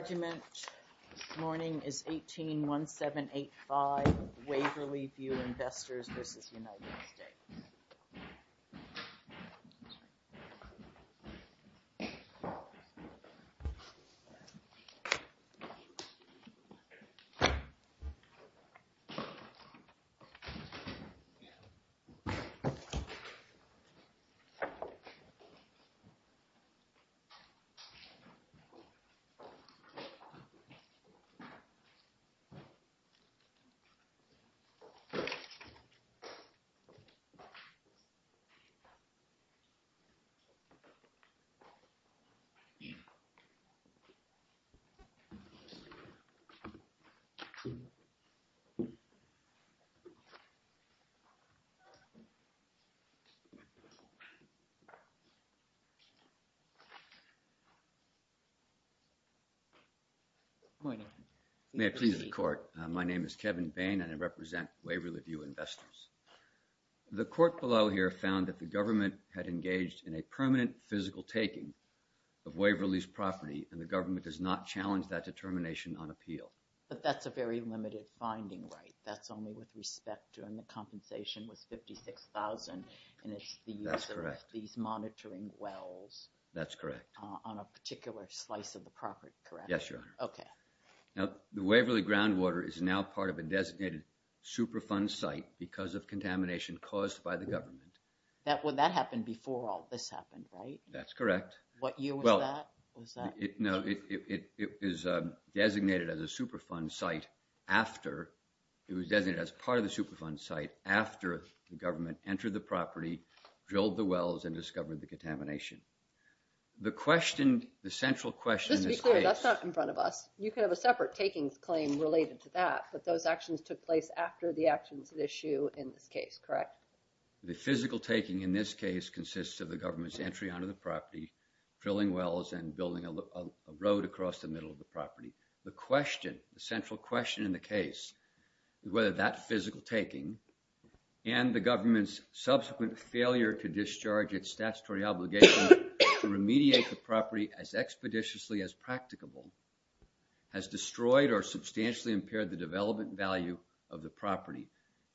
Regiment Morning is 181785 Waverley View Investors v. United States. Good morning. May I please the court. My name is Kevin Bain and I represent Waverley View Investors. The court below here found that the government had engaged in a permanent physical taking of Waverley's property and the government does not challenge that determination on appeal. But that's a very limited finding, right? That's only with respect to and the compensation was 56,000 and it's the use of these monitoring wells. That's correct. On a particular slice of the property, correct? Yes, Your Honor. Okay. Now, the Waverley groundwater is now part of a designated Superfund site because of contamination caused by the government. That happened before all this happened, right? That's correct. What year was that? No, it is designated as a Superfund site after it was designated as part of the Superfund site after the government entered the property, drilled the wells, and discovered the contamination. The question, the central question in this case... Just to be clear, that's not in front of us. You can have a separate takings claim related to that, but those actions took place after the actions at issue in this case, correct? The physical taking in this case consists of the government's entry onto the property, drilling wells, and building a road across the middle of the property. The question, the central question in the case, whether that physical taking and the government's subsequent failure to discharge its statutory obligation to remediate the property as expeditiously as practicable has destroyed or substantially impaired the development value of the property.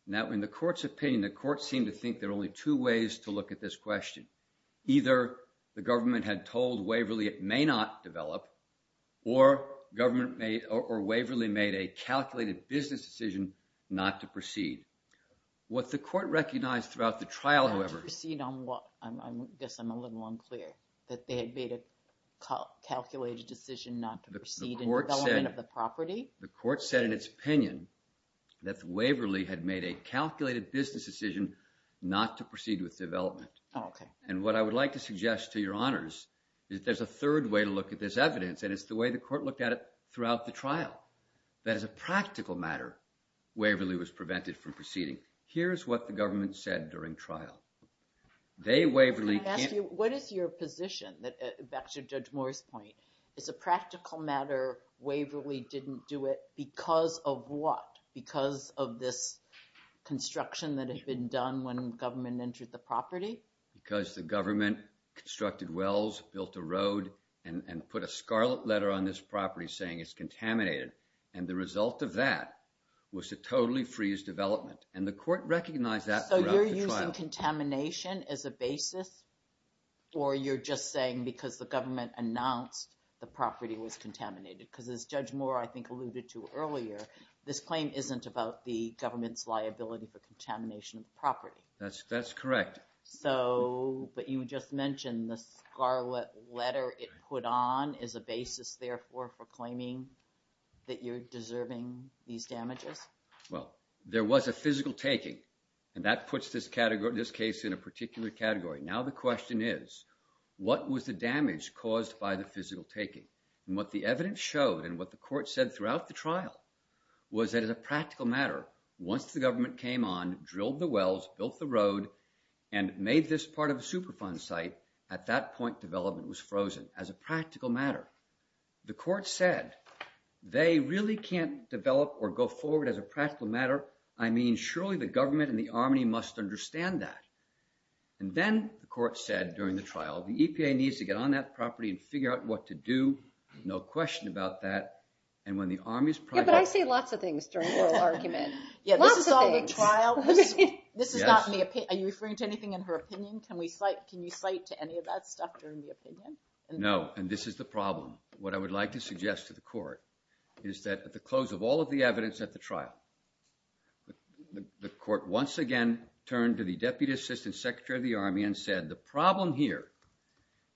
Now, in the court's opinion, the court seemed to think there are only two ways to look at this question. Either the government had told Waverley it may not develop, or Waverley made a calculated business decision not to proceed. What the court recognized throughout the trial, however... To proceed on what? I guess I'm a little unclear. That they had made a calculated decision not to proceed in development of the property? The court said in its opinion that Waverley had made a calculated business decision not to proceed with development. Okay. And what I would like to suggest to your honors is there's a third way to look at this evidence, and it's the way the court looked at it throughout the trial. That as a practical matter, Waverley was prevented from proceeding. Here's what the government said during trial. They, Waverley... Can I ask you, what is your position, back to Judge Moore's point? As a practical matter, Waverley didn't do it because of what? Because of this construction that had been done when government entered the property? Because the government constructed wells, built a road, and put a scarlet letter on this property saying it's contaminated. And the result of that was to totally freeze development. And the court recognized that throughout the trial. So you're using contamination as a basis, or you're just saying because the government announced the property was contaminated? Because as Judge Moore, I think, alluded to earlier, this claim isn't about the government's liability for contamination of the property. That's correct. So, but you just mentioned the scarlet letter it put on is a basis, therefore, for claiming that you're deserving these damages? Well, there was a physical taking, and that puts this case in a particular category. Now the question is, what was the damage caused by the physical taking? And what the evidence showed, and what the court said throughout the trial, was that as a practical matter, once the government came on, and made this part of a Superfund site, at that point development was frozen as a practical matter. The court said, they really can't develop or go forward as a practical matter. I mean, surely the government and the Army must understand that. And then the court said during the trial, the EPA needs to get on that property and figure out what to do. No question about that. And when the Army's project... Yeah, but I say lots of things during oral argument. Yeah, this is all the trial. This is not the opinion. Are you referring to anything in her opinion? Can you cite to any of that stuff during the opinion? No, and this is the problem. What I would like to suggest to the court is that at the close of all of the evidence at the trial, the court once again turned to the Deputy Assistant Secretary of the Army and said, the problem here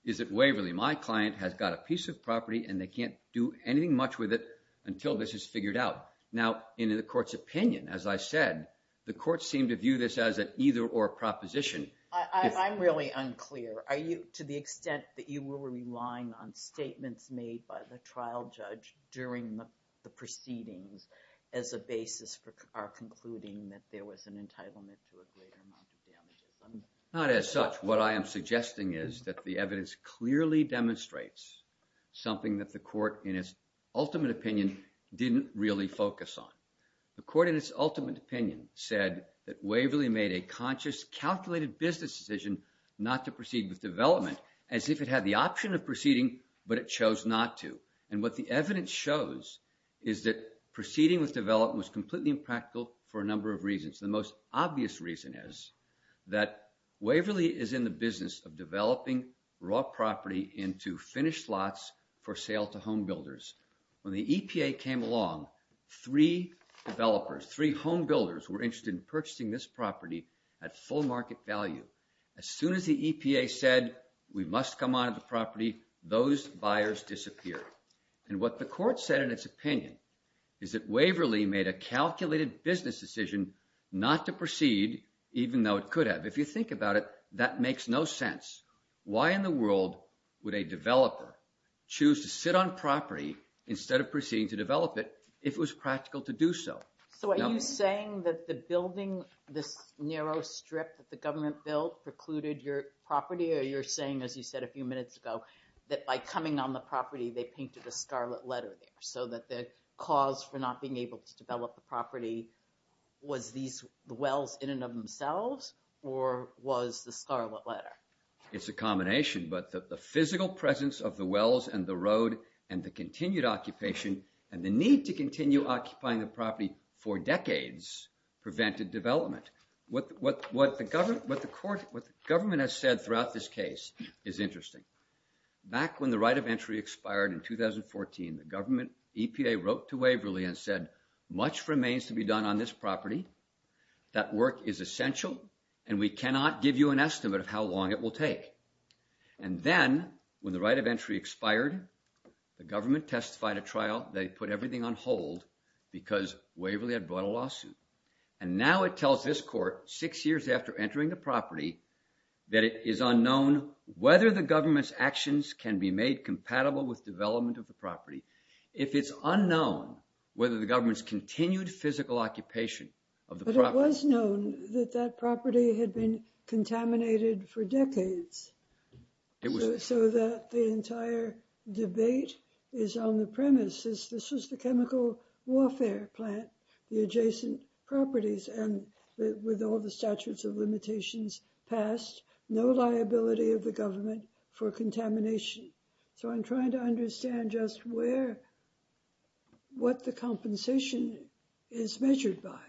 is that Waverly, my client, has got a piece of property, and they can't do anything much with it until this is figured out. Now, in the court's opinion, as I said, the court seemed to view this as an either-or proposition. I'm really unclear. To the extent that you were relying on statements made by the trial judge during the proceedings as a basis for our concluding that there was an entitlement to a greater amount of damages? Not as such. What I am suggesting is that the evidence clearly demonstrates something that the court, in its ultimate opinion, didn't really focus on. The court, in its ultimate opinion, said that Waverly made a conscious, calculated business decision not to proceed with development as if it had the option of proceeding, but it chose not to. And what the evidence shows is that proceeding with development was completely impractical for a number of reasons. The most obvious reason is that Waverly is in the business of developing raw property into finished slots for sale to home builders. When the EPA came along, three developers, three home builders, were interested in purchasing this property at full market value. As soon as the EPA said, we must come on to the property, those buyers disappeared. And what the court said in its opinion is that Waverly made a calculated business decision not to proceed, even though it could have. If you think about it, that makes no sense. Why in the world would a developer choose to sit on property instead of proceeding to develop it if it was practical to do so? So are you saying that the building, this narrow strip that the government built, precluded your property? Or you're saying, as you said a few minutes ago, that by coming on the property, they painted a scarlet letter there, so that the cause for not being able to develop the property, was the wells in and of themselves, or was the scarlet letter? It's a combination. But the physical presence of the wells and the road and the continued occupation and the need to continue occupying the property for decades prevented development. What the government has said throughout this case is interesting. Back when the right of entry expired in 2014, the EPA wrote to Waverly and said, much remains to be done on this property. That work is essential, and we cannot give you an estimate of how long it will take. And then, when the right of entry expired, the government testified at trial. They put everything on hold because Waverly had brought a lawsuit. And now it tells this court, six years after entering the property, that it is unknown whether the government's actions can be made compatible with development of the property. If it's unknown whether the government's continued physical occupation of the property… But it was known that that property had been contaminated for decades, so that the entire debate is on the premise that this was the chemical warfare plant, the adjacent properties, and with all the statutes of limitations passed, no liability of the government for contamination. So I'm trying to understand just what the compensation is measured by.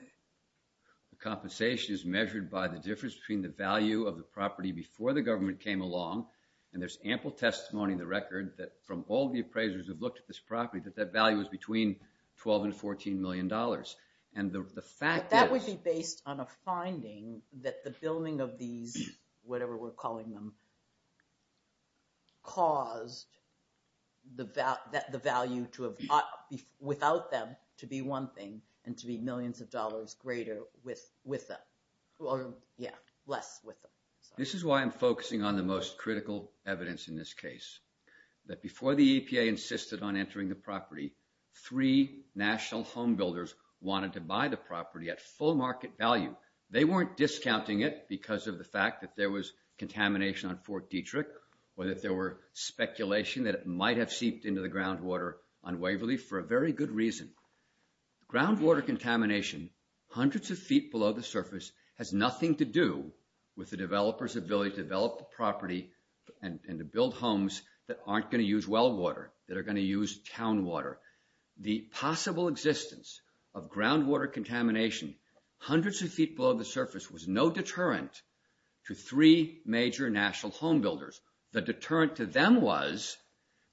The compensation is measured by the difference between the value of the property before the government came along, and there's ample testimony in the record that from all the appraisers who've looked at this property, that that value is between $12 and $14 million. But that would be based on a finding that the building of these, whatever we're calling them, caused the value without them to be one thing and to be millions of dollars less with them. This is why I'm focusing on the most critical evidence in this case. That before the EPA insisted on entering the property, three national home builders wanted to buy the property at full market value. They weren't discounting it because of the fact that there was contamination on Fort Detrick, or that there were speculation that it might have seeped into the groundwater on Waverly for a very good reason. Groundwater contamination hundreds of feet below the surface has nothing to do with the developers' ability to develop the property and to build homes that aren't going to use well water, that are going to use town water. The possible existence of groundwater contamination hundreds of feet below the surface was no deterrent to three major national home builders. The deterrent to them was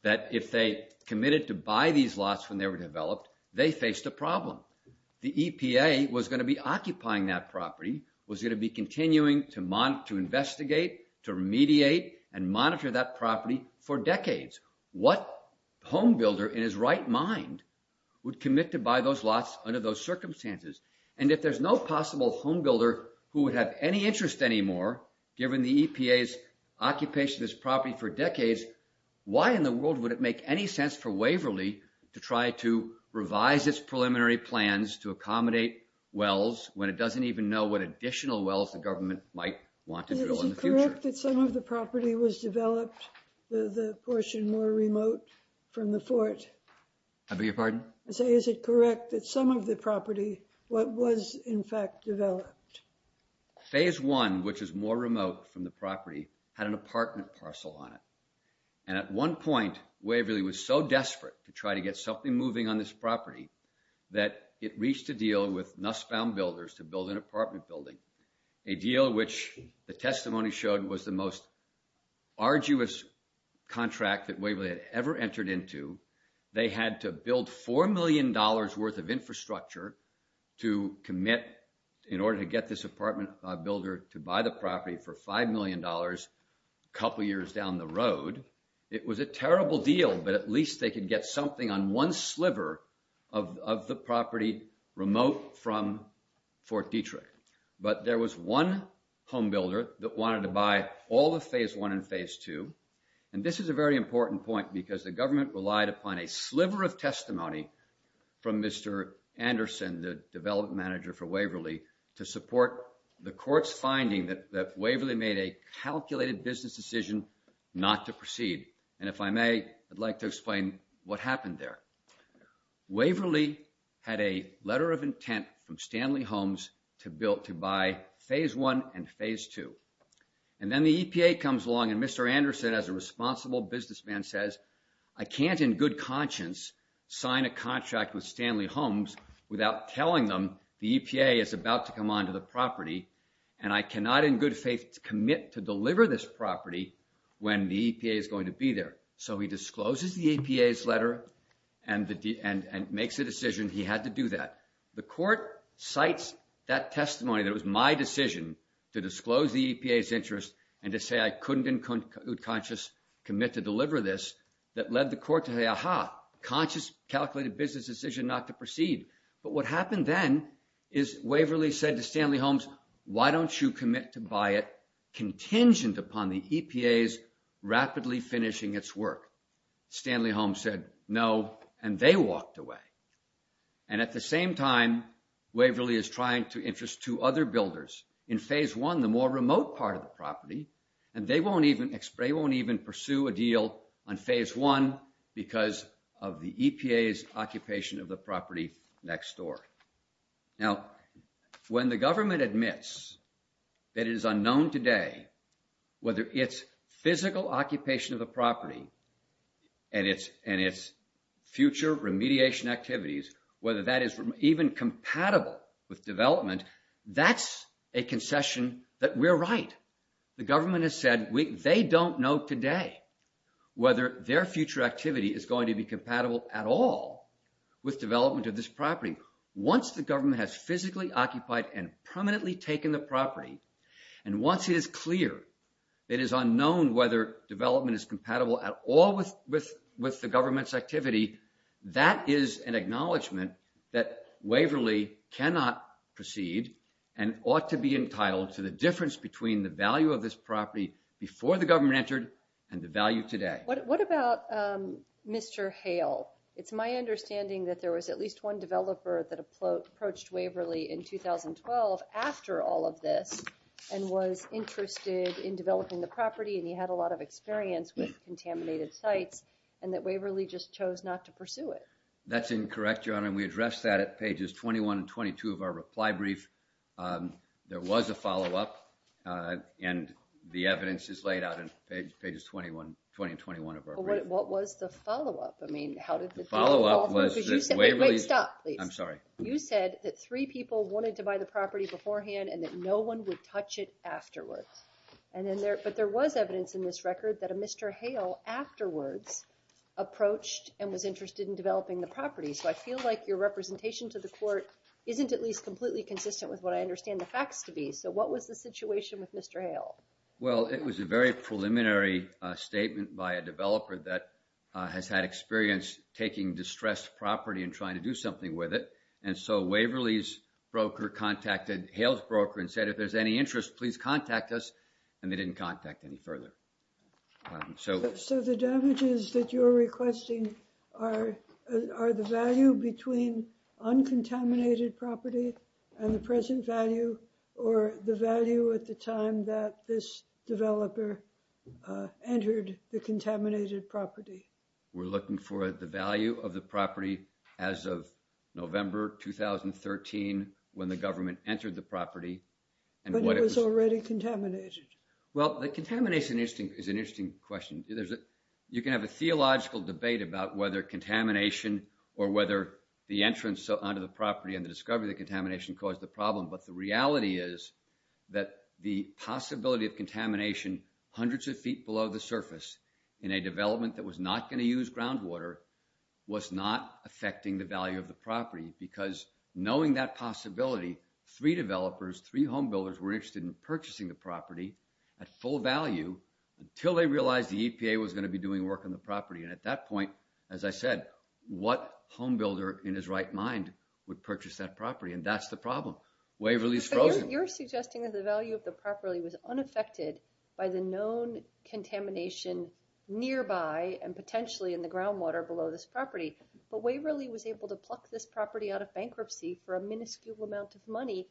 that if they committed to buy these lots when they were developed, they faced a problem. The EPA was going to be occupying that property, was going to be continuing to investigate, to mediate, and monitor that property for decades. What home builder in his right mind would commit to buy those lots under those circumstances? And if there's no possible home builder who would have any interest anymore, given the EPA's occupation of this property for decades, why in the world would it make any sense for Waverly to try to revise its preliminary plans to accommodate wells when it doesn't even know what additional wells the government might want to drill in the future? Is it correct that some of the property was developed, the portion more remote from the fort? I beg your pardon? I say, is it correct that some of the property was in fact developed? Phase one, which is more remote from the property, had an apartment parcel on it. And at one point, Waverly was so desperate to try to get something moving on this property that it reached a deal with Nussbaum Builders to build an apartment building, a deal which the testimony showed was the most arduous contract that Waverly had ever entered into. They had to build $4 million worth of infrastructure to commit, in order to get this apartment builder to buy the property for $5 million a couple years down the road. It was a terrible deal, but at least they could get something on one sliver of the property remote from Fort Detrick. But there was one home builder that wanted to buy all of phase one and phase two. And this is a very important point because the government relied upon a sliver of testimony from Mr. Anderson, the development manager for Waverly, to support the court's finding that Waverly made a calculated business decision not to proceed. And if I may, I'd like to explain what happened there. Waverly had a letter of intent from Stanley Homes to buy phase one and phase two. And then the EPA comes along and Mr. Anderson, as a responsible businessman, says, I can't in good conscience sign a contract with Stanley Homes without telling them the EPA is about to come onto the property, and I cannot in good faith commit to deliver this property when the EPA is going to be there. So he discloses the EPA's letter and makes a decision he had to do that. The court cites that testimony that it was my decision to disclose the EPA's interest and to say I couldn't in good conscience commit to deliver this, that led the court to say, aha, conscious, calculated business decision not to proceed. But what happened then is Waverly said to Stanley Homes, why don't you commit to buy it contingent upon the EPA's rapidly finishing its work? Stanley Homes said no, and they walked away. And at the same time, Waverly is trying to interest two other builders in phase one, the more remote part of the property, and they won't even pursue a deal on phase one because of the EPA's occupation of the property next door. Now, when the government admits that it is unknown today whether its physical occupation of the property and its future remediation activities, whether that is even compatible with development, that's a concession that we're right. The government has said they don't know today whether their future activity is going to be compatible at all with development of this property. Once the government has physically occupied and permanently taken the property, and once it is clear it is unknown whether development is compatible at all with the government's activity, that is an acknowledgment that Waverly cannot proceed and ought to be entitled to the difference between the value of this property before the government entered and the value today. What about Mr. Hale? It's my understanding that there was at least one developer that approached Waverly in 2012 after all of this and was interested in developing the property, and he had a lot of experience with contaminated sites, and that Waverly just chose not to pursue it. That's incorrect, Your Honor, and we addressed that at pages 21 and 22 of our reply brief. There was a follow-up, and the evidence is laid out in pages 20 and 21 of our brief. What was the follow-up? The follow-up was that Waverly— Wait, stop, please. I'm sorry. You said that three people wanted to buy the property beforehand and that no one would touch it afterwards, but there was evidence in this record that a Mr. Hale afterwards approached and was interested in developing the property. So I feel like your representation to the court isn't at least completely consistent with what I understand the facts to be. So what was the situation with Mr. Hale? Well, it was a very preliminary statement by a developer that has had experience taking distressed property and trying to do something with it, and so Waverly's broker contacted Hale's broker and said, if there's any interest, please contact us, and they didn't contact any further. So the damages that you're requesting are the value between uncontaminated property and the present value or the value at the time that this developer entered the contaminated property? We're looking for the value of the property as of November 2013 when the government entered the property. But it was already contaminated. Well, the contamination is an interesting question. You can have a theological debate about whether contamination or whether the entrance onto the property and the discovery of the contamination caused the problem, but the reality is that the possibility of contamination hundreds of feet below the surface in a development that was not going to use groundwater was not affecting the value of the property because knowing that possibility, three developers, three homebuilders were interested in purchasing the property at full value until they realized the EPA was going to be doing work on the property. And at that point, as I said, what homebuilder in his right mind would purchase that property? And that's the problem. Waverly's frozen. You're suggesting that the value of the property was unaffected by the known contamination nearby and potentially in the groundwater below this property, but Waverly was able to pluck this property out of bankruptcy for a minuscule amount of money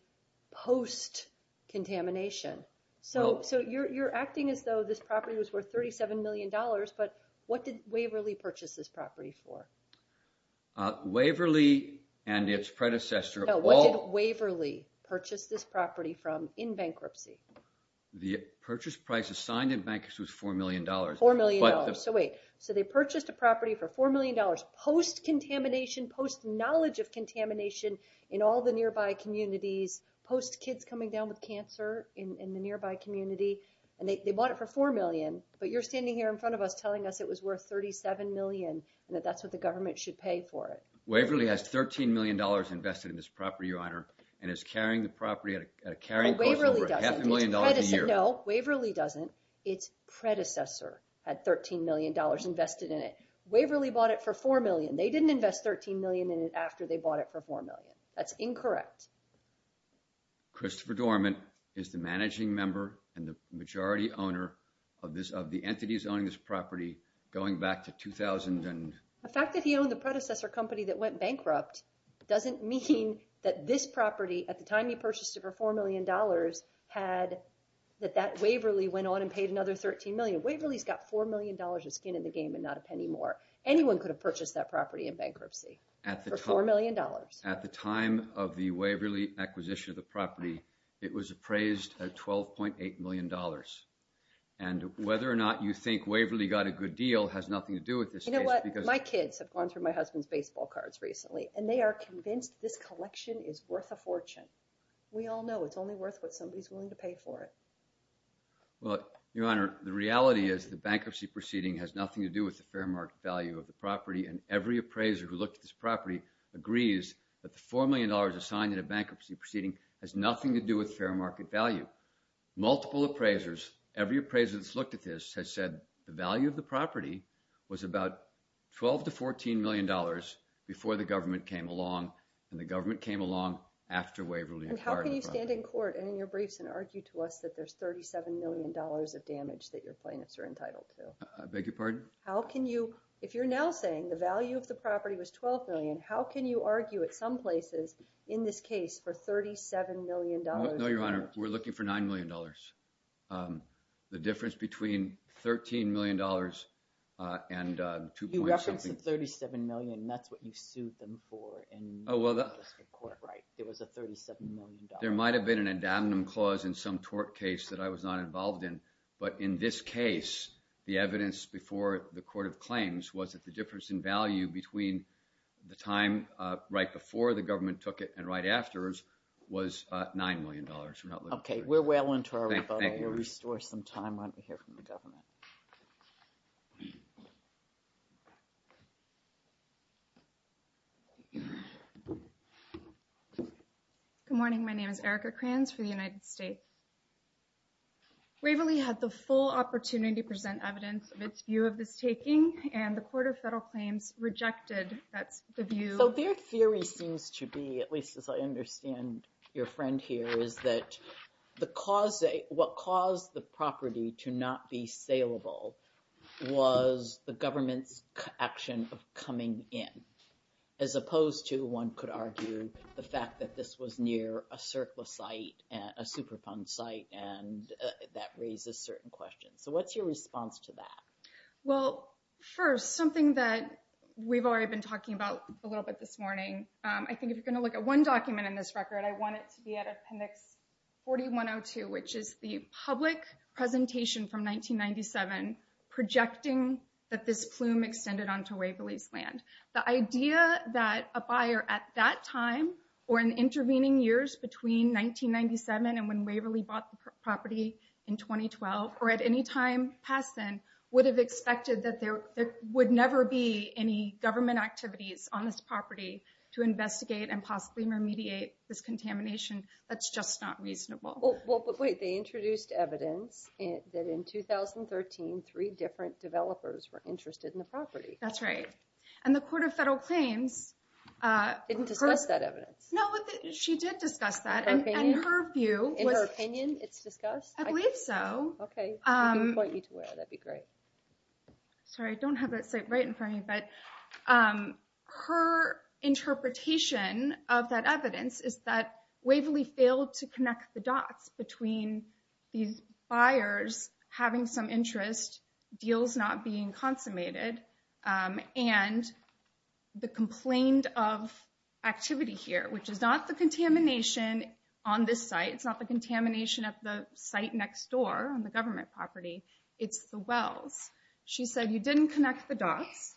post-contamination. So you're acting as though this property was worth $37 million. But what did Waverly purchase this property for? Waverly and its predecessor... No, what did Waverly purchase this property from in bankruptcy? The purchase price assigned in bankruptcy was $4 million. $4 million. So wait, so they purchased a property for $4 million post-contamination, post-knowledge of contamination in all the nearby communities, post-kids coming down with cancer in the nearby community, and they bought it for $4 million. But you're standing here in front of us telling us it was worth $37 million and that that's what the government should pay for it. Waverly has $13 million invested in this property, Your Honor, and is carrying the property at a carrying cost of over half a million dollars a year. No, Waverly doesn't. Its predecessor had $13 million invested in it. Waverly bought it for $4 million. They didn't invest $13 million in it after they bought it for $4 million. That's incorrect. Christopher Dormant is the managing member and the majority owner of this, of the entities owning this property going back to 2000 and... The fact that he owned the predecessor company that went bankrupt doesn't mean that this property, at the time he purchased it for $4 million, had that that Waverly went on and paid another $13 million. Waverly's got $4 million of skin in the game and not a penny more. Anyone could have purchased that property in bankruptcy for $4 million. At the time of the Waverly acquisition of the property, it was appraised at $12.8 million. And whether or not you think Waverly got a good deal has nothing to do with this case because... You know what? My kids have gone through my husband's baseball cards recently and they are convinced this collection is worth a fortune. We all know it's only worth what somebody's willing to pay for it. Well, Your Honor, the reality is the bankruptcy proceeding has nothing to do with the fair market value of the property, and every appraiser who looked at this property agrees that the $4 million assigned in a bankruptcy proceeding has nothing to do with fair market value. Multiple appraisers, every appraiser that's looked at this has said the value of the property was about $12 to $14 million before the government came along, and the government came along after Waverly acquired the property. And how can you stand in court and in your briefs and argue to us that there's $37 million of damage that your plaintiffs are entitled to? I beg your pardon? If you're now saying the value of the property was $12 million, how can you argue at some places in this case for $37 million? No, Your Honor, we're looking for $9 million. The difference between $13 million and 2.7... You referenced the $37 million, and that's what you sued them for in the district court, right? It was a $37 million. There might have been an adamnum clause in some tort case that I was not involved in, but in this case, the evidence before the court of claims was that the difference in value between the time right before the government took it and right afterwards was $9 million. Okay, we're well into our rebuttal. Let me restore some time right here from the government. Good morning, my name is Erica Kranz for the United States. Waverly had the full opportunity to present evidence of its view of this taking, and the Court of Federal Claims rejected the view... So their theory seems to be, at least as I understand your friend here, is that what caused the property to not be saleable was the government's action of coming in, as opposed to, one could argue, the fact that this was near a surplus site, a superfund site, and that raises certain questions. So what's your response to that? Well, first, something that we've already been talking about a little bit this morning. I think if you're going to look at one document in this record, I want it to be at Appendix 4102, which is the public presentation from 1997 projecting that this plume extended onto Waverly's land. The idea that a buyer at that time, or in intervening years between 1997 and when Waverly bought the property in 2012, or at any time past then, would have expected that there would never be any government activities on this property to investigate and possibly remediate this contamination, that's just not reasonable. Well, but wait, they introduced evidence that in 2013, three different developers were interested in the property. That's right, and the Court of Federal Claims... Didn't discuss that evidence. No, she did discuss that, and her view was... In her opinion, it's discussed? I believe so. Okay, I can point you to where, that'd be great. Sorry, I don't have that site right in front of me, but her interpretation of that evidence is that Waverly failed to connect the dots between these buyers having some interest, deals not being consummated, and the complained of activity here, which is not the contamination on this site. It's not the contamination of the site next door on the government property. It's the wells. She said you didn't connect the dots,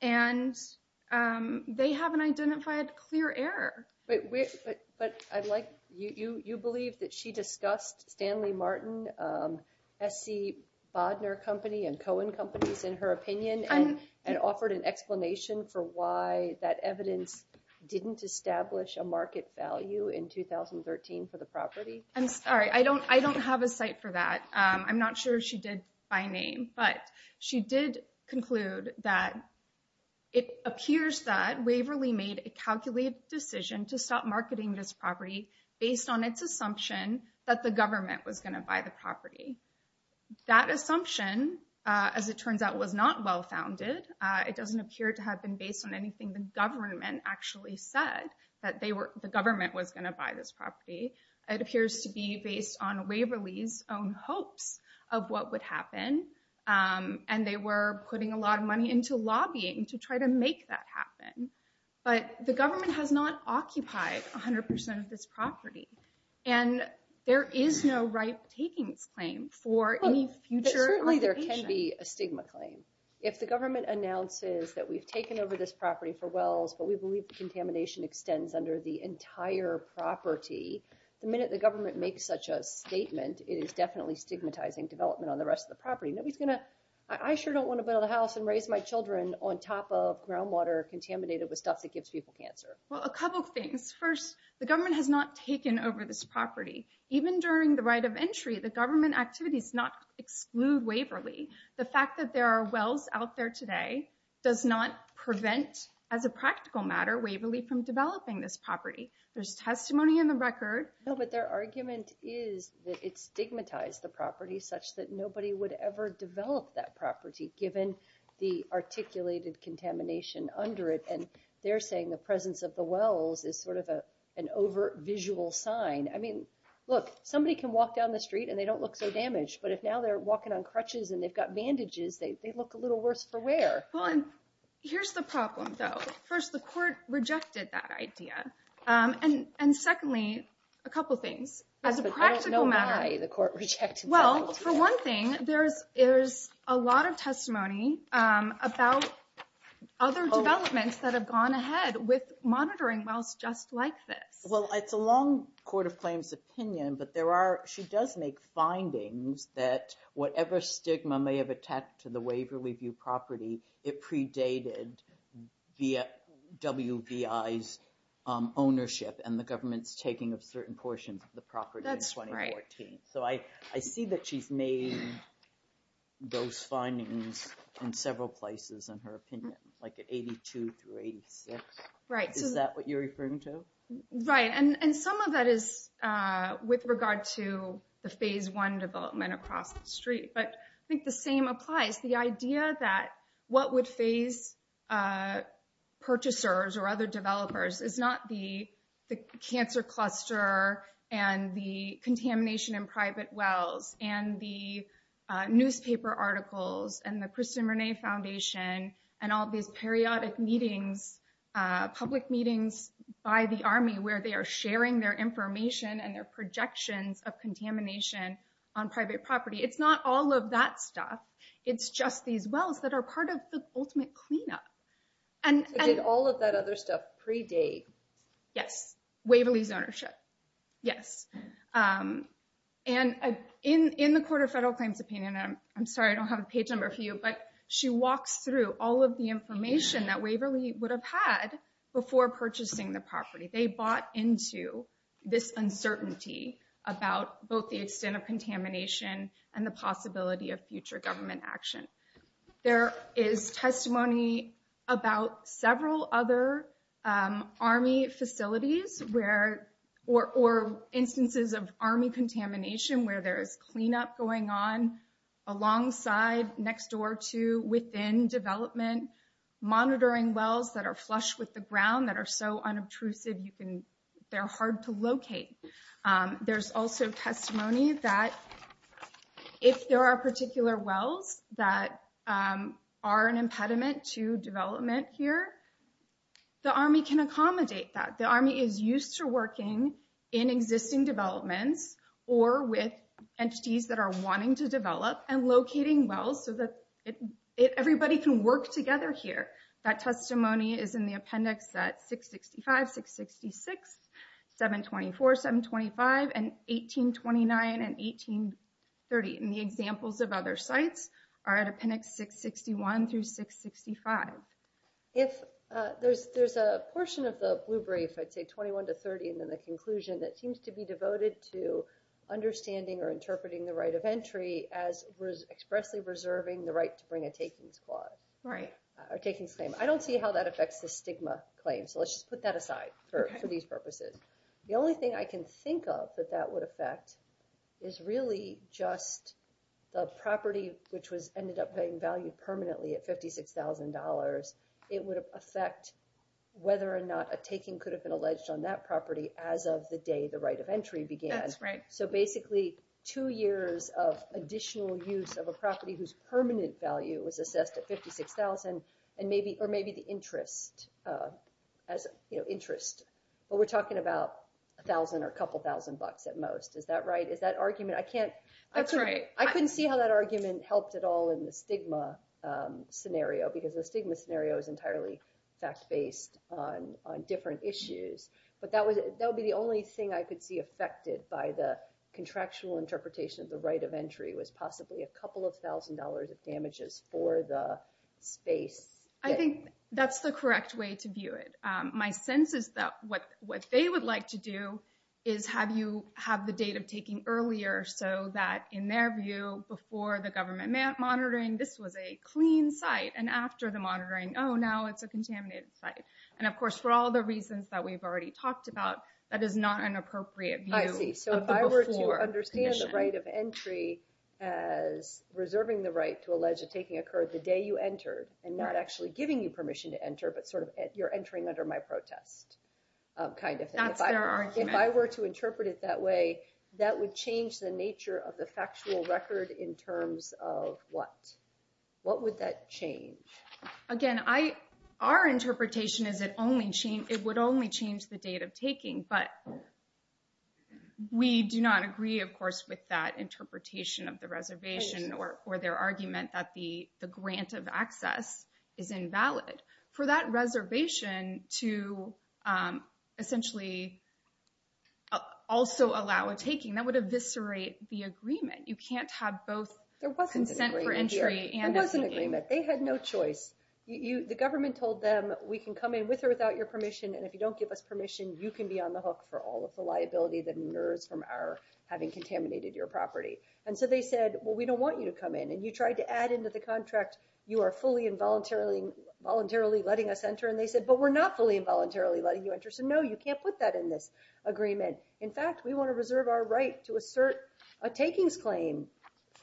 and they haven't identified clear error. But I'd like... You believe that she discussed Stanley Martin, S.C. Bodner Company, and Cohen Companies in her opinion and offered an explanation for why that evidence didn't establish a market value in 2013 for the property? I'm sorry, I don't have a site for that. I'm not sure she did by name, but she did conclude that it appears that Waverly made a calculated decision to stop marketing this property based on its assumption that the government was going to buy the property. That assumption, as it turns out, was not well-founded. It doesn't appear to have been based on anything the government actually said, that the government was going to buy this property. It appears to be based on Waverly's own hopes of what would happen, and they were putting a lot of money into lobbying to try to make that happen. But the government has not occupied 100% of this property, and there is no right takings claim for any future occupation. But certainly there can be a stigma claim. If the government announces that we've taken over this property for wells, but we believe the contamination extends under the entire property, the minute the government makes such a statement, it is definitely stigmatizing development on the rest of the property. I sure don't want to build a house and raise my children on top of groundwater contaminated with stuff that gives people cancer. Well, a couple of things. First, the government has not taken over this property. Even during the right of entry, the government activities not exclude Waverly. The fact that there are wells out there today does not prevent, as a practical matter, Waverly from developing this property. There's testimony in the record. No, but their argument is that it stigmatized the property such that nobody would ever develop that property given the articulated contamination under it. And they're saying the presence of the wells is sort of an over-visual sign. I mean, look, somebody can walk down the street and they don't look so damaged, but if now they're walking on crutches and they've got bandages, they look a little worse for wear. Well, and here's the problem, though. First, the court rejected that idea. And secondly, a couple things. Yes, but I don't know why the court rejected that idea. Well, for one thing, there's a lot of testimony about other developments that have gone ahead with monitoring wells just like this. Well, it's a long court of claims opinion, but she does make findings that whatever stigma may have attached to the Waverly View property, it predated WVI's ownership and the government's taking of certain portions of the property in 2014. So I see that she's made those findings in several places in her opinion, like at 82 through 86. Is that what you're referring to? Right, and some of that is with regard to the Phase I development across the street. But I think the same applies. The idea that what would phase purchasers or other developers is not the cancer cluster and the contamination in private wells and the newspaper articles and the Kristin Renée Foundation and all these periodic meetings, public meetings by the Army where they are sharing their information and their projections of contamination on private property. It's not all of that stuff. It's just these wells that are part of the ultimate cleanup. So did all of that other stuff predate? Yes, Waverly's ownership, yes. And in the court of federal claims opinion, and I'm sorry I don't have a page number for you, but she walks through all of the information that Waverly would have had before purchasing the property. They bought into this uncertainty about both the extent of contamination and the possibility of future government action. There is testimony about several other Army facilities or instances of Army contamination where there is cleanup going on alongside, next door to, within development, monitoring wells that are flush with the ground, that are so unobtrusive, they're hard to locate. There's also testimony that if there are particular wells that are an impediment to development here, the Army can accommodate that. The Army is used to working in existing developments or with entities that are wanting to develop and locating wells so that everybody can work together here. That testimony is in the appendix at 665, 666, 724, 725, and 1829, and 1830. And the examples of other sites are at appendix 661 through 665. If there's a portion of the blue brief, I'd say 21 to 30, and then the conclusion, that seems to be devoted to understanding or interpreting the right of entry as expressly reserving the right to bring a takings claim. I don't see how that affects the stigma claim, so let's just put that aside for these purposes. The only thing I can think of that that would affect is really just the property which ended up being valued permanently at $56,000. It would affect whether or not a taking could have been alleged on that property as of the day the right of entry began. That's right. So basically two years of additional use of a property whose permanent value was assessed at $56,000, or maybe the interest. But we're talking about $1,000 or a couple thousand bucks at most. Is that right? Is that argument? That's right. I couldn't see how that argument helped at all in the stigma scenario because the stigma scenario is entirely fact-based on different issues. But that would be the only thing I could see affected by the contractual interpretation of the right of entry was possibly a couple of thousand dollars of damages for the space. I think that's the correct way to view it. My sense is that what they would like to do is have you have the date of taking earlier so that, in their view, before the government monitoring, this was a clean site, and after the monitoring, oh, now it's a contaminated site. And, of course, for all the reasons that we've already talked about, that is not an appropriate view of the before commission. I see. So if I were to understand the right of entry as reserving the right to allege a taking occurred the day you entered and not actually giving you permission to enter but sort of you're entering under my protest kind of thing. That's their argument. If I were to interpret it that way, that would change the nature of the factual record in terms of what? What would that change? Again, our interpretation is it would only change the date of taking, but we do not agree, of course, with that interpretation of the reservation or their argument that the grant of access is invalid. For that reservation to essentially also allow a taking, that would eviscerate the agreement. You can't have both consent for entry and a taking. They had no choice. The government told them, we can come in with or without your permission, and if you don't give us permission, you can be on the hook for all of the liability that inures from our having contaminated your property. And so they said, well, we don't want you to come in. And you tried to add into the contract, you are fully and voluntarily letting us enter. And they said, but we're not fully and voluntarily letting you enter. So, no, you can't put that in this agreement. In fact, we want to reserve our right to assert a takings claim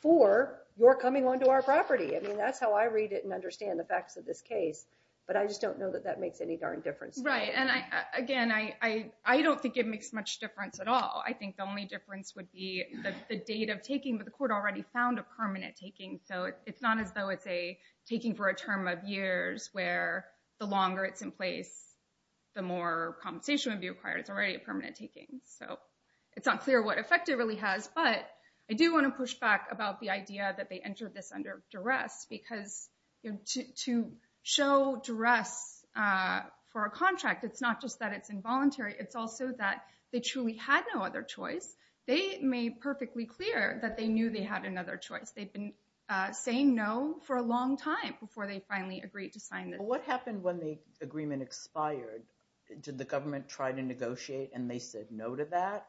for your coming onto our property. I mean, that's how I read it and understand the facts of this case. But I just don't know that that makes any darn difference. Right. And, again, I don't think it makes much difference at all. I think the only difference would be the date of taking, but the court already found a permanent taking. So it's not as though it's a taking for a term of years where the longer it's in place, the more compensation would be required. It's already a permanent taking. but I do want to push back about the idea that they entered this under duress because to show duress for a contract, it's not just that it's involuntary, it's also that they truly had no other choice. They made perfectly clear that they knew they had another choice. They'd been saying no for a long time before they finally agreed to sign this. What happened when the agreement expired? Did the government try to negotiate and they said no to that?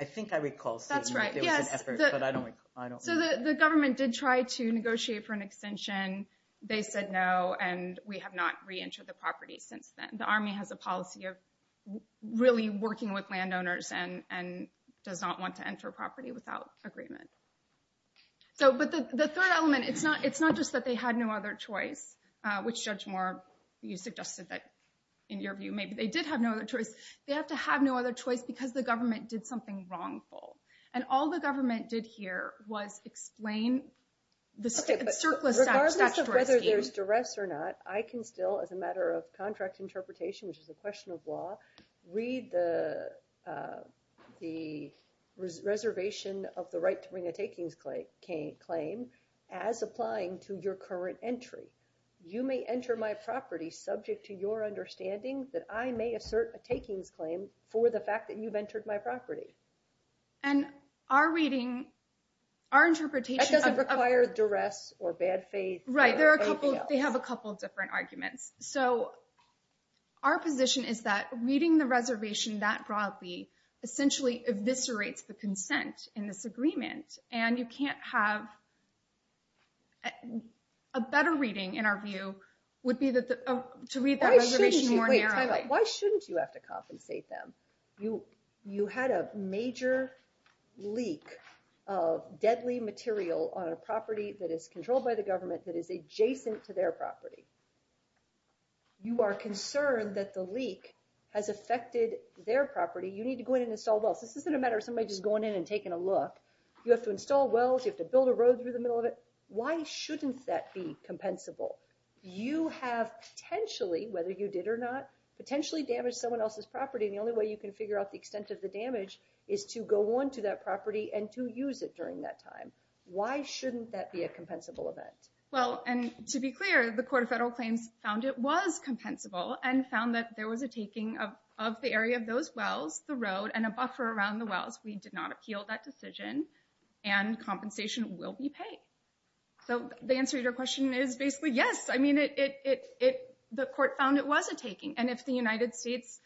I think I recall seeing that there was an effort, but I don't remember. So the government did try to negotiate for an extension. They said no, and we have not reentered the property since then. The Army has a policy of really working with landowners and does not want to enter a property without agreement. But the third element, it's not just that they had no other choice, which Judge Moore, you suggested that, in your view, maybe they did have no other choice. They have to have no other choice because the government did something wrongful. And all the government did here was explain the circular statute. Regardless of whether there's duress or not, I can still, as a matter of contract interpretation, which is a question of law, read the reservation of the right to bring a takings claim as applying to your current entry. You may enter my property subject to your understanding that I may assert a takings claim for the fact that you've entered my property. And our reading, our interpretation of- That doesn't require duress or bad faith or anything else. Right, they have a couple of different arguments. So our position is that reading the reservation that broadly essentially eviscerates the consent in this agreement, and you can't have a better reading, in our view, would be to read that reservation more narrowly. Why shouldn't you have to compensate them? You had a major leak of deadly material on a property that is controlled by the government that is adjacent to their property. You are concerned that the leak has affected their property. You need to go in and install wells. This isn't a matter of somebody just going in and taking a look. You have to install wells. You have to build a road through the middle of it. Why shouldn't that be compensable? You have potentially, whether you did or not, potentially damaged someone else's property and the only way you can figure out the extent of the damage is to go on to that property and to use it during that time. Why shouldn't that be a compensable event? Well, and to be clear, the Court of Federal Claims found it was compensable and found that there was a taking of the area of those wells, the road, and a buffer around the wells. We did not appeal that decision, and compensation will be paid. So the answer to your question is basically yes. I mean, the Court found it was a taking, and if the United States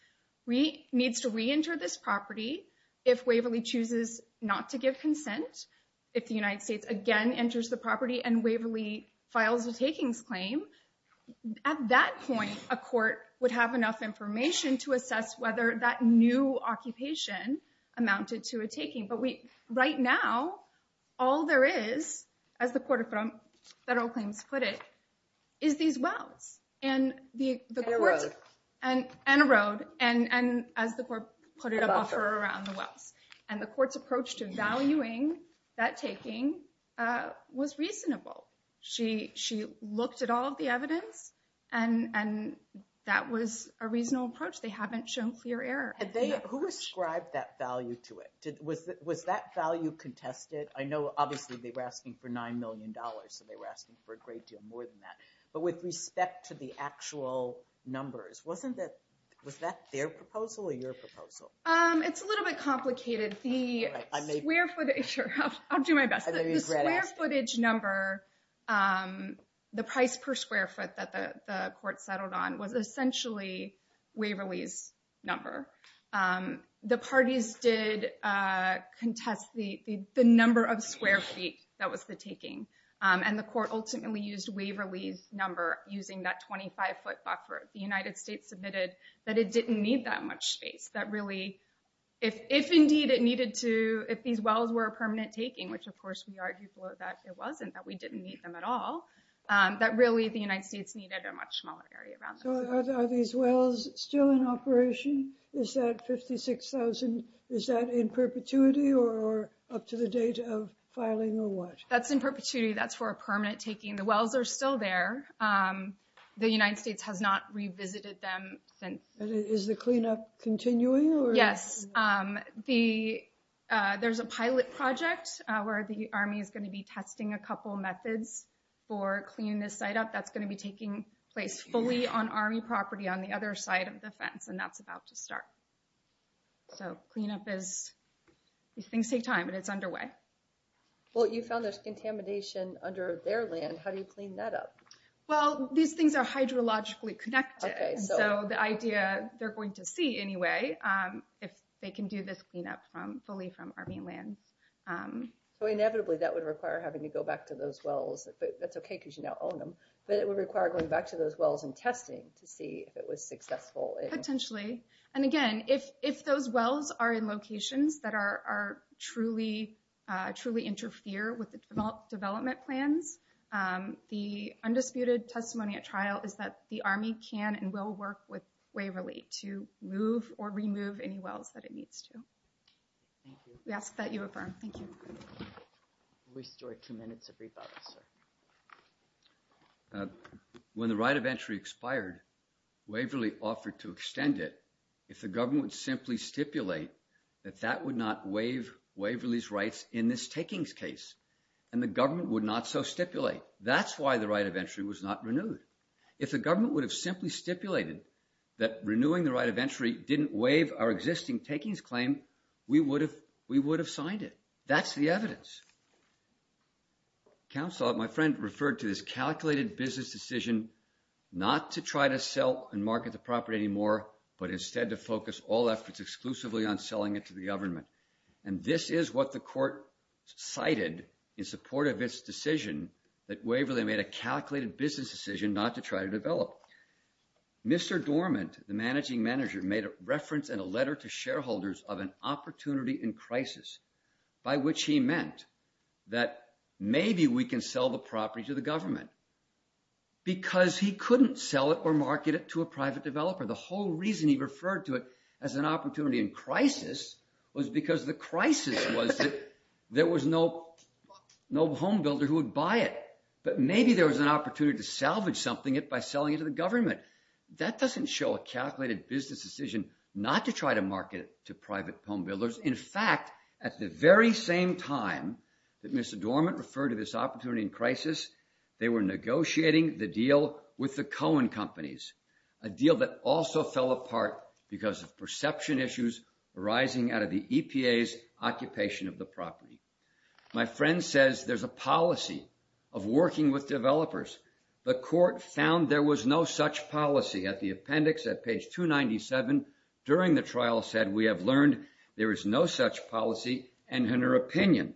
needs to reenter this property, if Waverly chooses not to give consent, if the United States again enters the property and Waverly files a takings claim, at that point a court would have enough information to assess whether that new occupation amounted to a taking. But right now, all there is, as the Court of Federal Claims put it, is these wells. And a road. And a road, and as the Court put it, a buffer around the wells. And the Court's approach to valuing that taking was reasonable. She looked at all of the evidence, and that was a reasonable approach. They haven't shown clear error. Who ascribed that value to it? Was that value contested? I know, obviously, they were asking for $9 million, so they were asking for a great deal more than that. But with respect to the actual numbers, was that their proposal or your proposal? It's a little bit complicated. The square footage number, the price per square foot that the court settled on was essentially Waverly's number. The parties did contest the number of square feet that was the taking. And the court ultimately used Waverly's number using that 25-foot buffer. The United States admitted that it didn't need that much space. That really, if indeed it needed to, if these wells were a permanent taking, which of course we argued for that it wasn't, that we didn't need them at all, that really the United States needed a much smaller area. So are these wells still in operation? Is that 56,000, is that in perpetuity or up to the date of filing or what? That's in perpetuity, that's for a permanent taking. The wells are still there. The United States has not revisited them since. Is the cleanup continuing? Yes, there's a pilot project where the Army is going to be testing a couple methods for cleaning this site up. That's going to be taking place fully on Army property on the other side of the fence, and that's about to start. So cleanup is, things take time, and it's underway. Well, you found there's contamination under their land. How do you clean that up? Well, these things are hydrologically connected, so the idea, they're going to see anyway if they can do this cleanup fully from Army land. So inevitably that would require having to go back to those wells. That's okay because you now own them, but it would require going back to those wells and testing to see if it was successful. Potentially, and again, if those wells are in locations that truly interfere with the development plans, the undisputed testimony at trial is that the Army can and will work with Waverly to move or remove any wells that it needs to. We ask that you affirm. Thank you. Restore two minutes of rebuttal, sir. When the right of entry expired, Waverly offered to extend it if the government would simply stipulate that that would not waive Waverly's rights in this takings case, and the government would not so stipulate. That's why the right of entry was not renewed. If the government would have simply stipulated that renewing the right of entry didn't waive our existing takings claim, we would have signed it. That's the evidence. Counsel, my friend referred to this calculated business decision not to try to sell and market the property anymore, but instead to focus all efforts exclusively on selling it to the government, and this is what the court cited in support of its decision that Waverly made a calculated business decision not to try to develop. Mr. Dormant, the managing manager, made a reference in a letter to shareholders of an opportunity in crisis by which he meant that maybe we can sell the property to the government because he couldn't sell it or market it to a private developer. The whole reason he referred to it as an opportunity in crisis was because the crisis was that there was no home builder who would buy it, but maybe there was an opportunity to salvage something by selling it to the government. That doesn't show a calculated business decision not to try to market it to private home builders. In fact, at the very same time that Mr. Dormant referred to this opportunity in crisis, they were negotiating the deal with the Cohen companies, a deal that also fell apart because of perception issues arising out of the EPA's occupation of the property. My friend says there's a policy of working with developers. The court found there was no such policy. At the appendix, at page 297, during the trial said, we have learned there is no such policy, and in her opinion,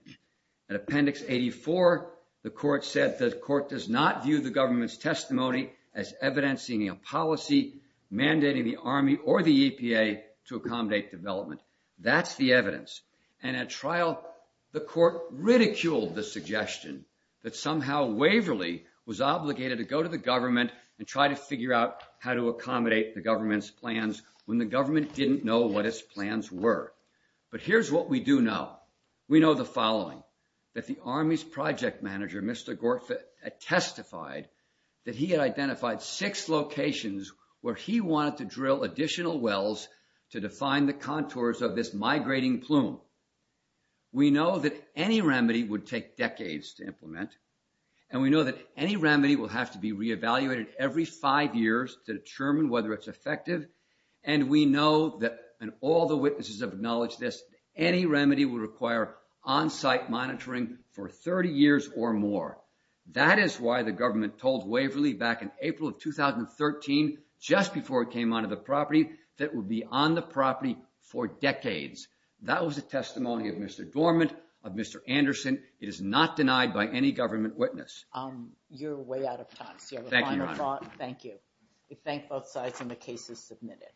At appendix 84, the court said the court does not view the government's testimony as evidencing a policy mandating the Army or the EPA to accommodate development. That's the evidence. And at trial, the court ridiculed the suggestion that somehow Waverly was obligated to go to the government and try to figure out how to accommodate the government's plans when the government didn't know what its plans were. But here's what we do know. We know the following, that the Army's project manager, Mr. Gortfit, testified that he had identified six locations where he wanted to drill additional wells to define the contours of this migrating plume. We know that any remedy would take decades to implement, and we know that any remedy will have to be reevaluated every five years to determine whether it's effective, and we know that, and all the witnesses have acknowledged this, that any remedy would require on-site monitoring for 30 years or more. That is why the government told Waverly back in April of 2013, just before it came onto the property, that it would be on the property for decades. That was the testimony of Mr. Dormant, of Mr. Anderson. It is not denied by any government witness. You're way out of time. Do you have a final thought? Thank you, Your Honor. We thank both sides, and the case is submitted.